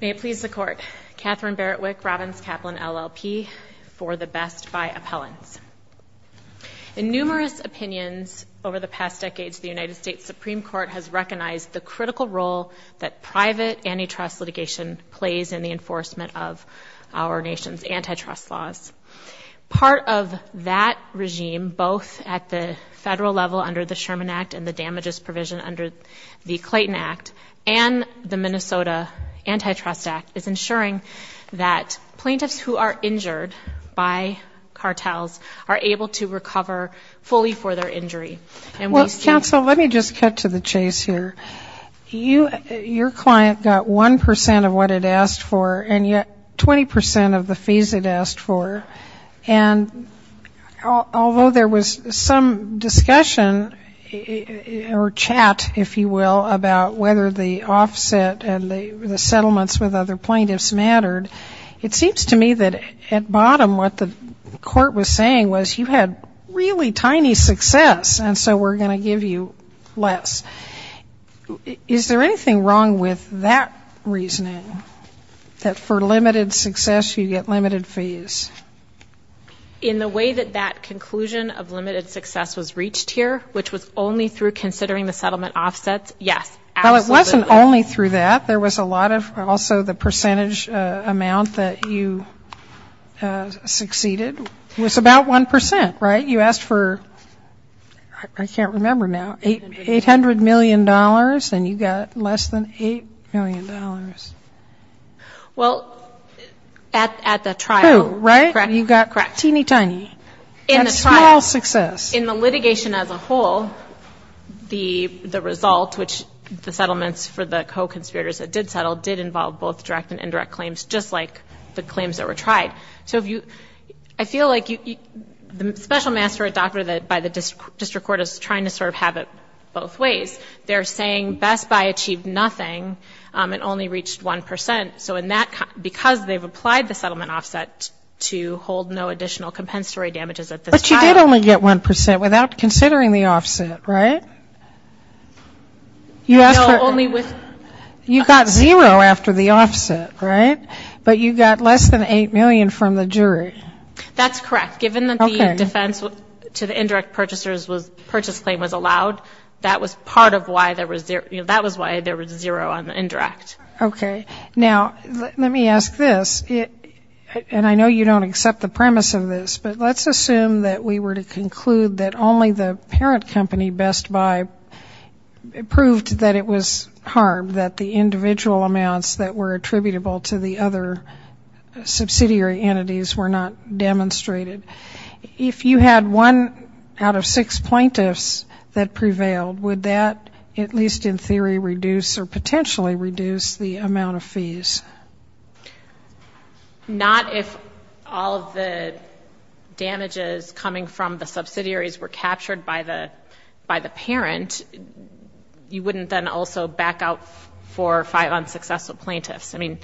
May it please the Court, Katherine Barrett Wick, Robbins Kaplan, LLP, for the Best Buy Appellants. In numerous opinions over the past decades, the United States Supreme Court has recognized the critical role that private antitrust litigation plays in the enforcement of our nation's antitrust laws. Part of that regime, both at the federal level under the Sherman Act and the damages provision under the Clayton Act and the Minnesota Antitrust Act, is ensuring that plaintiffs who are injured by cartels are able to recover fully for their injury. Well, counsel, let me just cut to the chase here. Your client got 1% of what it asked for and yet 20% of the fees it asked for, and although there was some discussion or chat, if you will, about whether the offset and the settlements with other plaintiffs mattered, it seems to me that at bottom what the court was saying was you had really tiny success and so we're going to give you less. Is there anything wrong with that reasoning, that for limited success you get limited fees? In the way that that conclusion of limited success was reached here, which was only through considering the settlement offsets, yes, absolutely. Well, it wasn't only through that. There was a lot of also the percentage amount that you succeeded was about 1%, right? You asked for, I can't remember now, $800 million and you got less than $8 million. Well, at the trial, you got teeny tiny and small success. In the litigation as a whole, the result, which the settlements for the co-conspirators that did settle, did involve both direct and indirect claims, just like the claims that were tried. So I feel like the special master or doctor by the district court is trying to sort of have it both ways. They're saying Best Buy achieved nothing and only reached 1%. So in that, because they've applied the settlement offset to hold no additional compensatory damages at this trial. But you did only get 1% without considering the offset, right? You got zero after the offset, right? But you got less than $8 million from the jury. That's correct. Given that the defense to the indirect purchaser's purchase claim was allowed, that was part of why there was zero on the indirect. Okay. Now, let me ask this, and I know you don't accept the premise of this, but let's assume that we were to conclude that only the parent company, Best Buy, proved that it was harm, that the individual amounts that were attributable to the other subsidiary entities were not demonstrated. If you had one out of six plaintiffs that prevailed, would that at least in theory reduce or potentially reduce the amount of fees? Not if all of the damages coming from the subsidiaries were captured by the parent. You wouldn't then also back out four or five unsuccessful plaintiffs. I mean,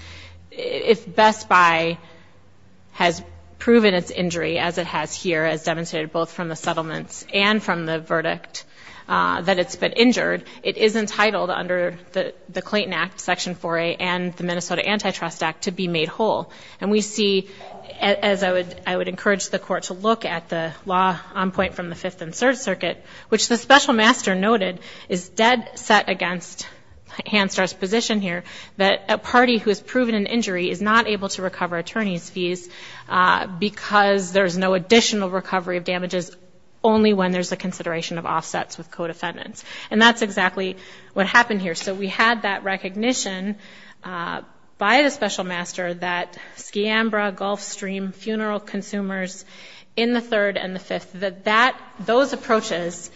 if Best Buy has proven its injury, as it has here, as demonstrated both from the settlements and from the verdict that it's been injured, it is entitled under the Clayton Act, Section 4A, and the Minnesota Antitrust Act to be made whole. And we see, as I would encourage the court to look at the law on point from the Fifth and Third Circuit, which the special master noted is dead set against Hanstar's position here, that a party who has proven an injury is not able to recover attorney's fees because there's no additional recovery of damages only when there's a consideration of offsets with co-defendants. And that's exactly what happened here. So we had that recognition by the special master that Skiambra, Gulfstream, funeral consumers in the Third and the Fifth, that those approaches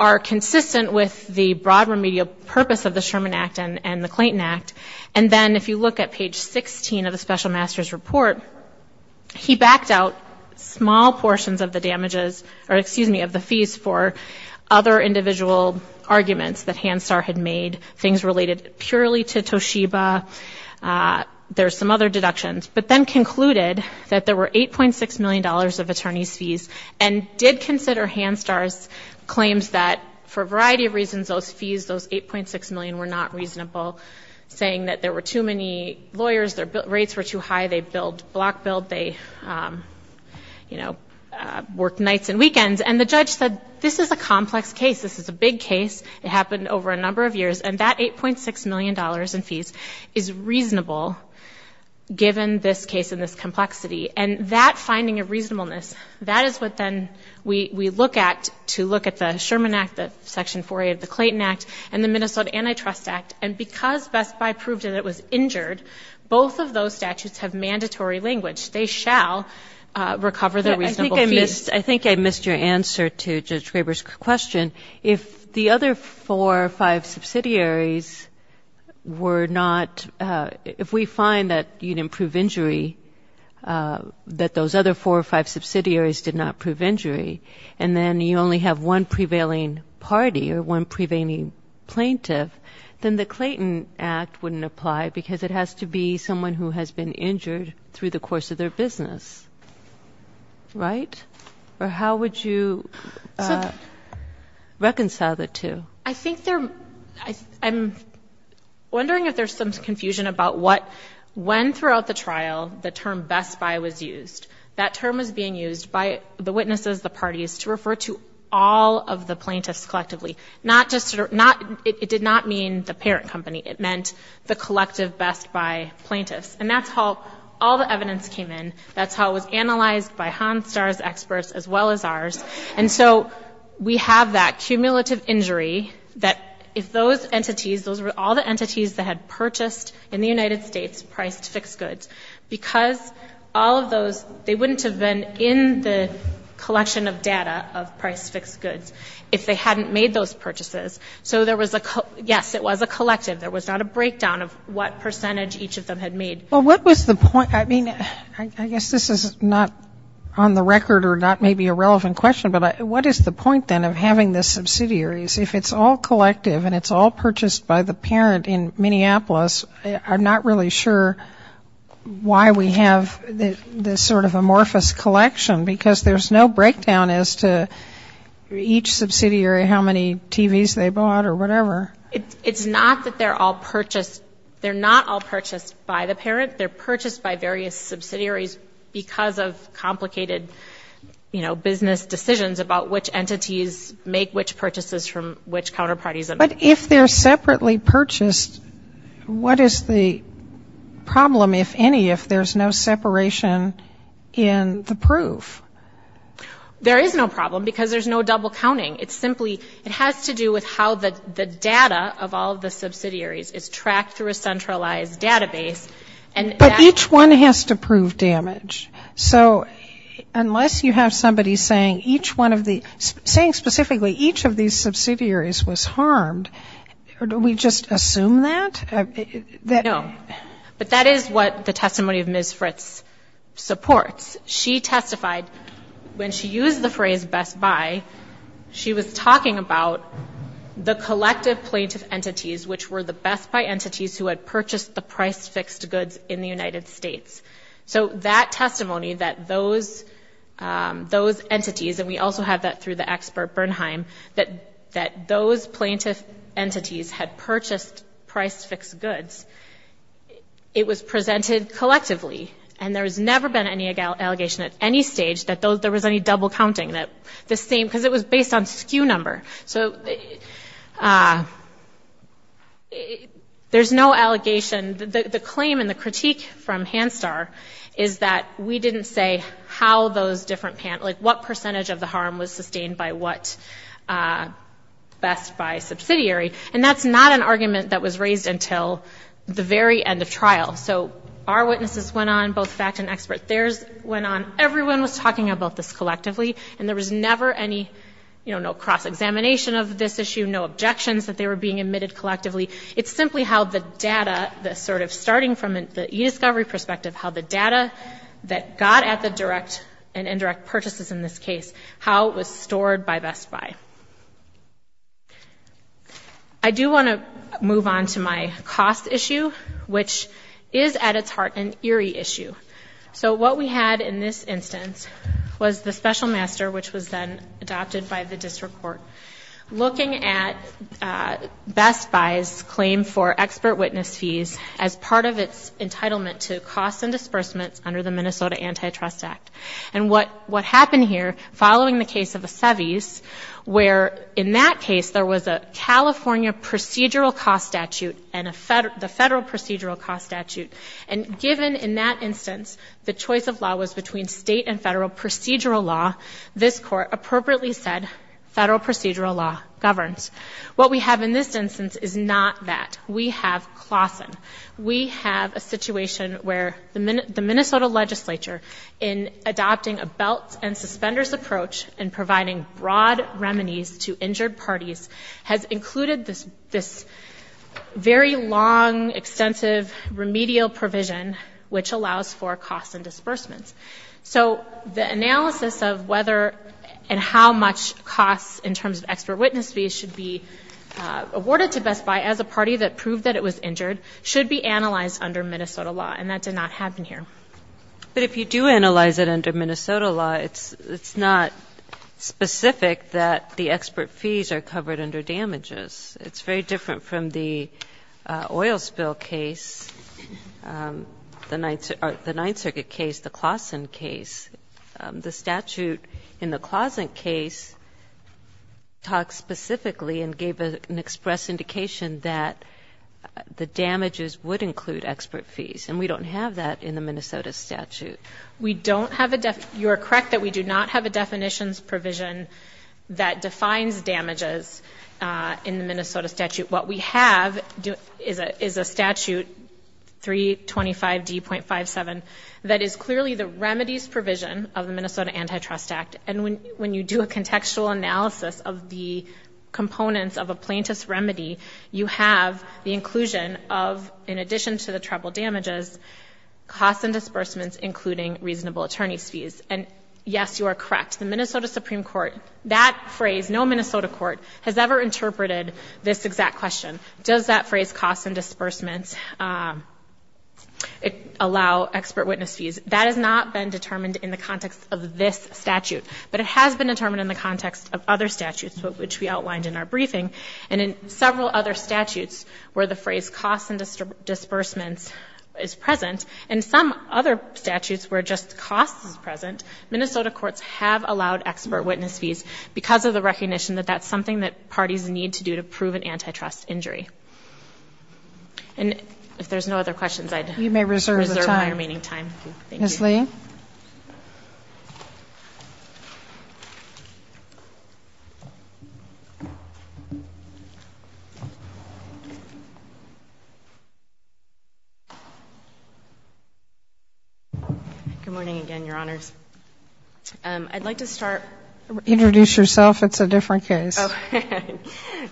are consistent with the broad media purpose of the Sherman Act and the Clayton Act. And then if you look at page 16 of the special master's report, he backed out small portions of the damages, or excuse me, of the fees for other individual arguments that Hanstar had made, things related purely to Toshiba, there's some other deductions, but then concluded that there were $8.6 million of attorney's fees and did consider Hanstar's claims that for a variety of reasons, those fees, those $8.6 million were not reasonable, saying that there were too many lawyers, their rates were too high, they block billed, they worked nights and weekends. And the judge said, this is a complex case, this is a big case, it happened over a number of years, and that $8.6 million in fees is reasonable given this case and this complexity. And that finding of reasonableness, that is what then we look at to look at the Sherman Act, the Section 4A of the Clayton Act, and the Minnesota Antitrust Act. And because Best Buy proved that it was injured, both of those statutes have mandatory language. They shall recover the reasonable fees. I think I missed your answer to Judge Graber's question. If the other four or five subsidiaries were not, if we find that you didn't prove injury, that those other four or five subsidiaries did not prove injury, and then you only have one prevailing party or one prevailing plaintiff, then the Clayton Act wouldn't apply because it has to be someone who has been injured through the course of their business, right? Or how would you reconcile the two? I think they're, I'm wondering if there's some confusion about what, when throughout the trial the term Best Buy was used, that term was being used by the witnesses, the plaintiffs, all of the plaintiffs collectively, not just, it did not mean the parent company. It meant the collective Best Buy plaintiffs. And that's how all the evidence came in. That's how it was analyzed by Honstar's experts as well as ours. And so we have that cumulative injury that if those entities, those were all the entities that had purchased in the United States priced fixed goods, because all of those, they wouldn't have been in the collection of data of priced fixed goods if they hadn't made those purchases. So there was a, yes, it was a collective, there was not a breakdown of what percentage each of them had made. Well, what was the point, I mean, I guess this is not on the record or not maybe a relevant question, but what is the point, then, of having the subsidiaries, if it's all collective and it's all purchased by the parent in Minneapolis, I'm not really sure why we have this sort of amorphous collection, because there's no breakdown as to each subsidiary, how many TVs they bought or whatever. It's not that they're all purchased. They're not all purchased by the parent. They're purchased by various subsidiaries because of complicated, you know, business decisions about which entities make which purchases from which counterparties. But if they're separately purchased, what is the problem, if any, if there's no separation in the proof? There is no problem, because there's no double counting. It's simply, it has to do with how the data of all of the subsidiaries is tracked through a centralized database, and that But each one has to prove damage. So unless you have somebody saying each one of the, saying specifically each of these subsidiaries is harmed, or do we just assume that? No. But that is what the testimony of Ms. Fritz supports. She testified, when she used the phrase best buy, she was talking about the collective plaintiff entities, which were the best buy entities who had purchased the price-fixed goods in the United States. So that testimony, that those entities, and we also have that through the expert Bernheim, that those plaintiff entities had purchased price-fixed goods, it was presented collectively. And there has never been any allegation at any stage that there was any double counting, that the same, because it was based on SKU number. So there's no allegation, the claim and the critique from Hanstar is that we didn't say how those different, what percentage of the harm was sustained by what best buy subsidiary. And that's not an argument that was raised until the very end of trial. So our witnesses went on, both fact and expert, theirs went on, everyone was talking about this collectively, and there was never any, you know, no cross-examination of this issue, no objections that they were being admitted collectively. It's simply how the data, the sort of starting from the e-discovery perspective, how the direct and indirect purchases in this case, how it was stored by Best Buy. I do want to move on to my cost issue, which is at its heart an eerie issue. So what we had in this instance was the special master, which was then adopted by the district court, looking at Best Buy's claim for expert witness fees as part of its entitlement to costs and disbursements under the Minnesota Antitrust Act. And what happened here, following the case of the Seve's, where in that case there was a California procedural cost statute and the federal procedural cost statute. And given in that instance the choice of law was between state and federal procedural law, this court appropriately said federal procedural law governs. What we have in this instance is not that. We have Claussen. We have a situation where the Minnesota legislature, in adopting a belt and suspenders approach and providing broad remedies to injured parties, has included this very long, extensive remedial provision which allows for costs and disbursements. So the analysis of whether and how much costs in terms of expert witness fees should be analyzed under Minnesota law, and that did not happen here. But if you do analyze it under Minnesota law, it's not specific that the expert fees are covered under damages. It's very different from the oil spill case, the Ninth Circuit case, the Claussen case. The statute in the Claussen case talks specifically and gave an express indication that the damage damages would include expert fees, and we don't have that in the Minnesota statute. We don't have a definition, you're correct that we do not have a definitions provision that defines damages in the Minnesota statute. What we have is a statute, 325D.57, that is clearly the remedies provision of the Minnesota Antitrust Act, and when you do a contextual analysis of the components of a plaintiff's case, you have the inclusion of, in addition to the treble damages, costs and disbursements including reasonable attorney's fees. And yes, you are correct, the Minnesota Supreme Court, that phrase, no Minnesota court has ever interpreted this exact question. Does that phrase, costs and disbursements, allow expert witness fees? That has not been determined in the context of this statute, but it has been determined in the context of other statutes which we outlined in our briefing, and in several other statutes, where the phrase, costs and disbursements, is present, and some other statutes where just costs is present, Minnesota courts have allowed expert witness fees because of the recognition that that's something that parties need to do to prove an antitrust injury. And if there's no other questions, I'd reserve my remaining time. You may reserve the time. Thank you. Ms. Lee? Good morning again, Your Honors. I'd like to start. Introduce yourself. It's a different case. Okay.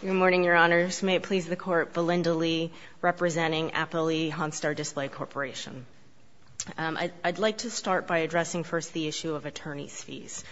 Good morning, Your Honors. May it please the Court. Belinda Lee, representing Appley Honstar Display Corporation. I'd like to start by addressing first the issue of attorney's fees.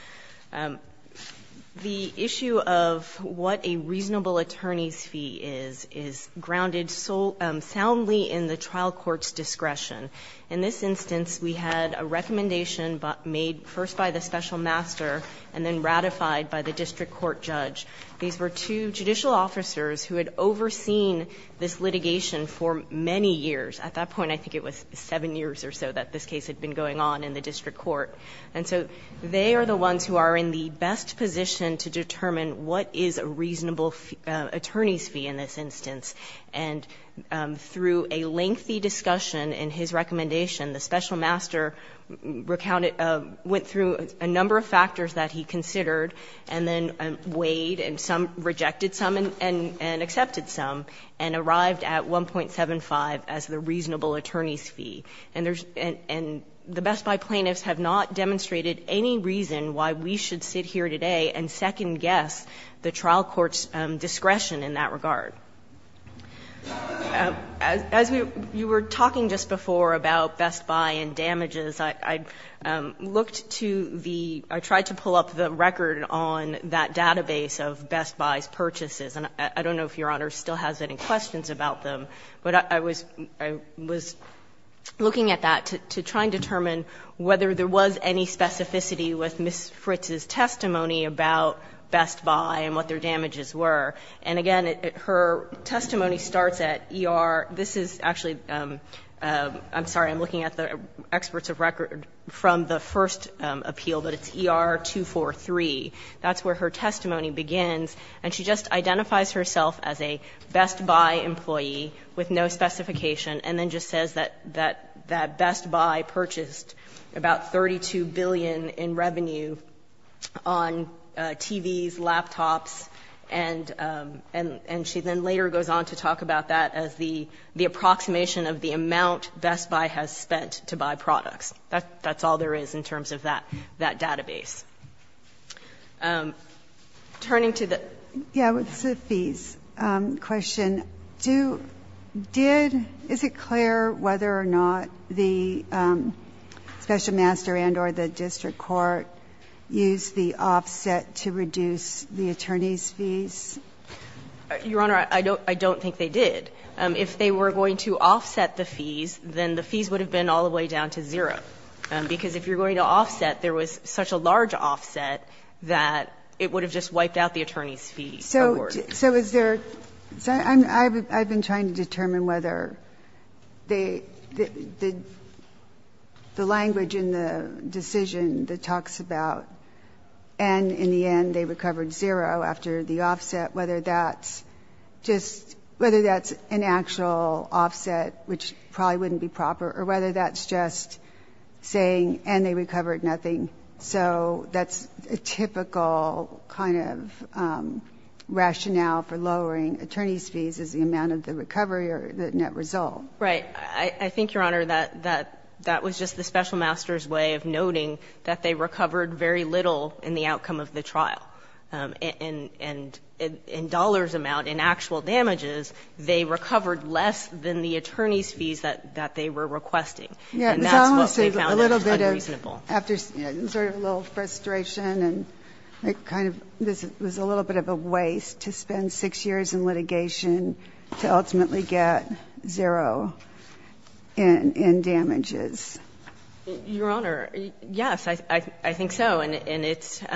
The issue of what a reasonable attorney's fee is, is grounded soundly in the trial court's discretion. In this instance, we had a recommendation made first by the special master and then ratified by the district court judge. These were two judicial officers who had overseen this litigation for many years. At that point, I think it was seven years or so that this case had been going on in the district court. And so they are the ones who are in the best position to determine what is a reasonable attorney's fee in this instance. And through a lengthy discussion in his recommendation, the special master recounted – went through a number of factors that he considered and then weighed and some – rejected some and accepted some and arrived at 1.75 as the reasonable attorney's fee. And there's – and the Best Buy plaintiffs have not demonstrated any reason why we should sit here today and second-guess the trial court's discretion in that regard. As we – you were talking just before about Best Buy and damages. I looked to the – I tried to pull up the record on that database of Best Buy's purchases. And I don't know if Your Honor still has any questions about them. But I was – I was looking at that to try and determine whether there was any specificity with Ms. Fritz's testimony about Best Buy and what their damages were. And again, her testimony starts at ER – this is actually – I'm sorry, I'm looking at the experts of record from the first appeal, but it's ER 243. That's where her testimony begins. And she just identifies herself as a Best Buy employee with no specification and then just says that – that Best Buy purchased about $32 billion in revenue on TVs, laptops. And she then later goes on to talk about that as the approximation of the amount Best Buy has spent to buy products. That's all there is in terms of that database. Turning to the – Yeah, with the fees question, do – did – is it clear whether or not the Special Master and or the district court used the offset to reduce the attorney's fees? Your Honor, I don't – I don't think they did. If they were going to offset the fees, then the fees would have been all the way down to zero. Because if you're going to offset, there was such a large offset that it would have just wiped out the attorney's fee. So is there – I've been trying to determine whether they – the language in the decision that talks about and in the end they recovered zero after the offset, whether that's just – whether that's an actual offset, which probably wouldn't be proper, or whether that's just saying, and they recovered nothing. So that's a typical kind of rationale for lowering attorney's fees is the amount of the recovery or the net result. Right. I think, Your Honor, that that was just the Special Master's way of noting that they recovered very little in the outcome of the trial. And in dollars amount, in actual damages, they recovered less than the attorney's fee that they were requesting. And that's what we found unreasonable. It was almost a little bit of – after sort of a little frustration and it kind of was a little bit of a waste to spend six years in litigation to ultimately get zero in damages. Your Honor, yes, I think so. And it's –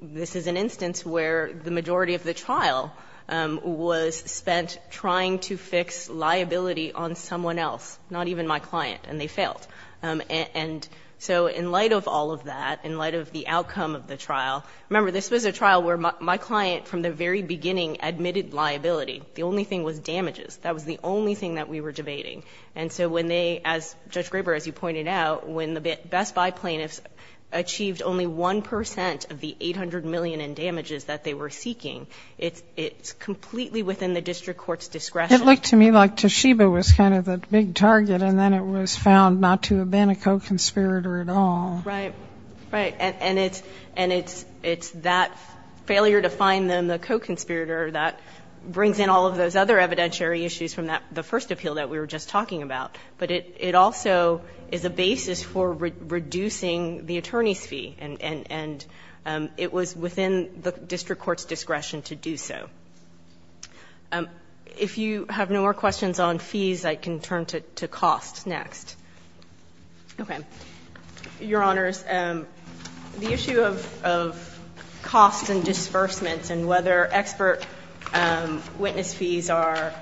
this is an instance where the majority of the trial was spent trying to fix liability on someone else, not even my client, and they failed. And so in light of all of that, in light of the outcome of the trial – remember, this was a trial where my client from the very beginning admitted liability. The only thing was damages. That was the only thing that we were debating. And so when they – as Judge Graber, as you pointed out, when the Best Buy plaintiffs achieved only 1 percent of the $800 million in damages that they were asking for, it was within the district court's discretion. It looked to me like Toshiba was kind of the big target and then it was found not to have been a co-conspirator at all. Right. Right. And it's that failure to find them the co-conspirator that brings in all of those other evidentiary issues from the first appeal that we were just talking about. But it also is a basis for reducing the attorney's fee. And it was within the district court's discretion to do so. Okay. If you have no more questions on fees, I can turn to costs next. Okay. Your Honors, the issue of costs and disbursements and whether expert witness fees are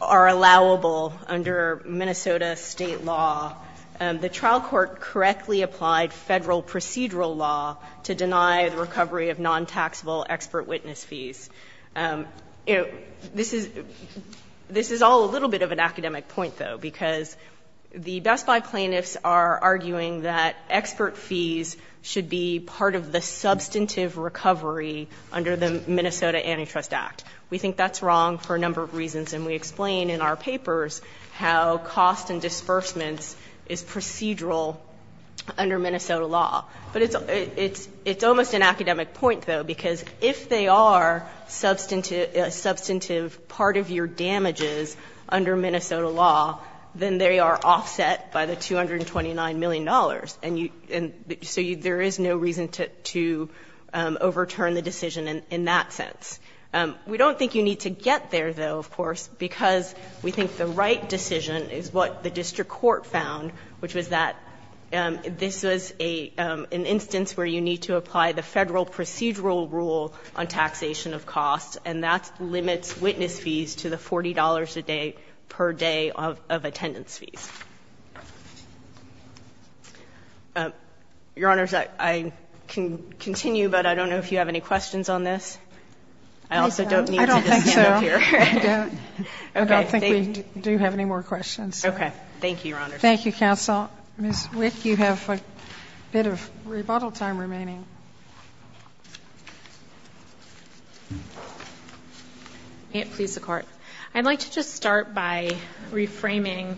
allowable under Minnesota state law, the trial court correctly applied federal procedural law to deny the recovery of non-taxable expert witness fees. This is all a little bit of an academic point, though, because the Best Buy plaintiffs are arguing that expert fees should be part of the substantive recovery under the Minnesota Antitrust Act. We think that's wrong for a number of reasons and we explain in our papers how cost and disbursements is procedural under Minnesota law. But it's almost an academic point, though, because if they are a substantive part of your damages under Minnesota law, then they are offset by the $229 million. And so there is no reason to overturn the decision in that sense. We don't think you need to get there, though, of course, because we think the right decision is what the district court found, which was that this was an instance where you need to apply the federal procedural rule on taxation of costs, and that limits witness fees to the $40 a day per day of attendance fees. Your Honors, I can continue, but I don't know if you have any questions on this. I also don't need to just sit up here. I don't think so. I don't. Okay. I don't think we do have any more questions. Okay. Thank you, Your Honors. Thank you, Counsel. Ms. Wick, you have a bit of rebuttal time remaining. May it please the Court. I'd like to just start by reframing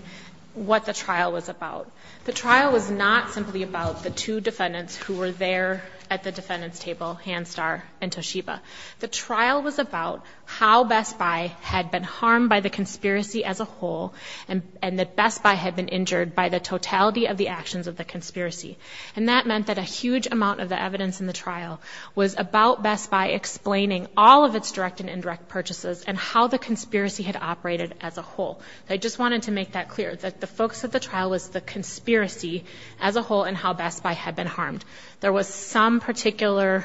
what the trial was about. The trial was not simply about the two defendants who were there at the defendant's table, Hanstar and Toshiba. The trial was about how Best Buy had been harmed by the conspiracy as a whole and that Best Buy had been injured by the totality of the actions of the conspiracy. And that meant that a huge amount of the evidence in the trial was about Best Buy explaining all of its direct and indirect purchases and how the conspiracy had operated as a whole. I just wanted to make that clear, that the focus of the trial was the conspiracy as a whole and how Best Buy had been harmed. There was some particular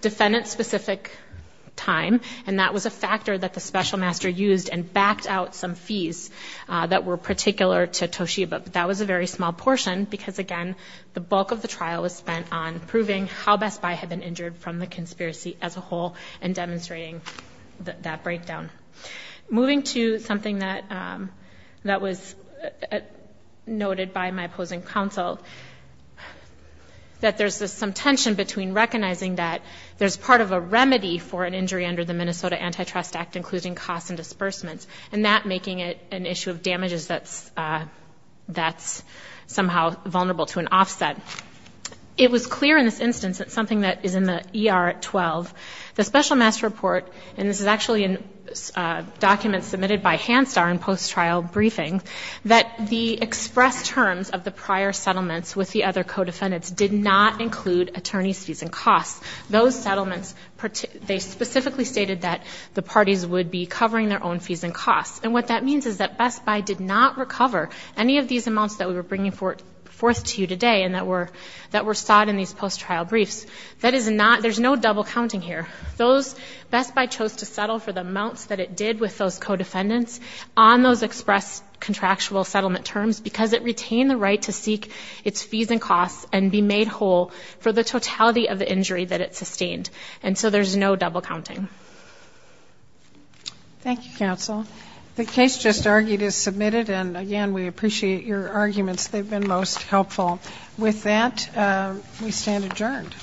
defendant-specific time and that was a factor that the Special Master used and backed out some fees that were particular to Toshiba. That was a very small portion because, again, the bulk of the trial was spent on proving how Best Buy had been injured from the conspiracy as a whole and demonstrating that breakdown. Moving to something that was noted by my opposing counsel, that there's some tension between recognizing that there's part of a remedy for an injury under the Minnesota Antitrust Act, including costs and disbursements, and that making it an issue of damages that's somehow vulnerable to an offset. It was clear in this instance that something that is in the ER at 12, the Special Master's document submitted by Hansdahr in post-trial briefing, that the express terms of the prior settlements with the other co-defendants did not include attorneys' fees and costs. Those settlements, they specifically stated that the parties would be covering their own fees and costs. And what that means is that Best Buy did not recover any of these amounts that we were bringing forth to you today and that were sought in these post-trial briefs. That is not, there's no double counting here. Those, Best Buy chose to settle for the amounts that it did with those co-defendants on those express contractual settlement terms because it retained the right to seek its fees and costs and be made whole for the totality of the injury that it sustained. And so there's no double counting. Thank you, counsel. The case just argued is submitted, and again, we appreciate your arguments. They've been most helpful. With that, we stand adjourned.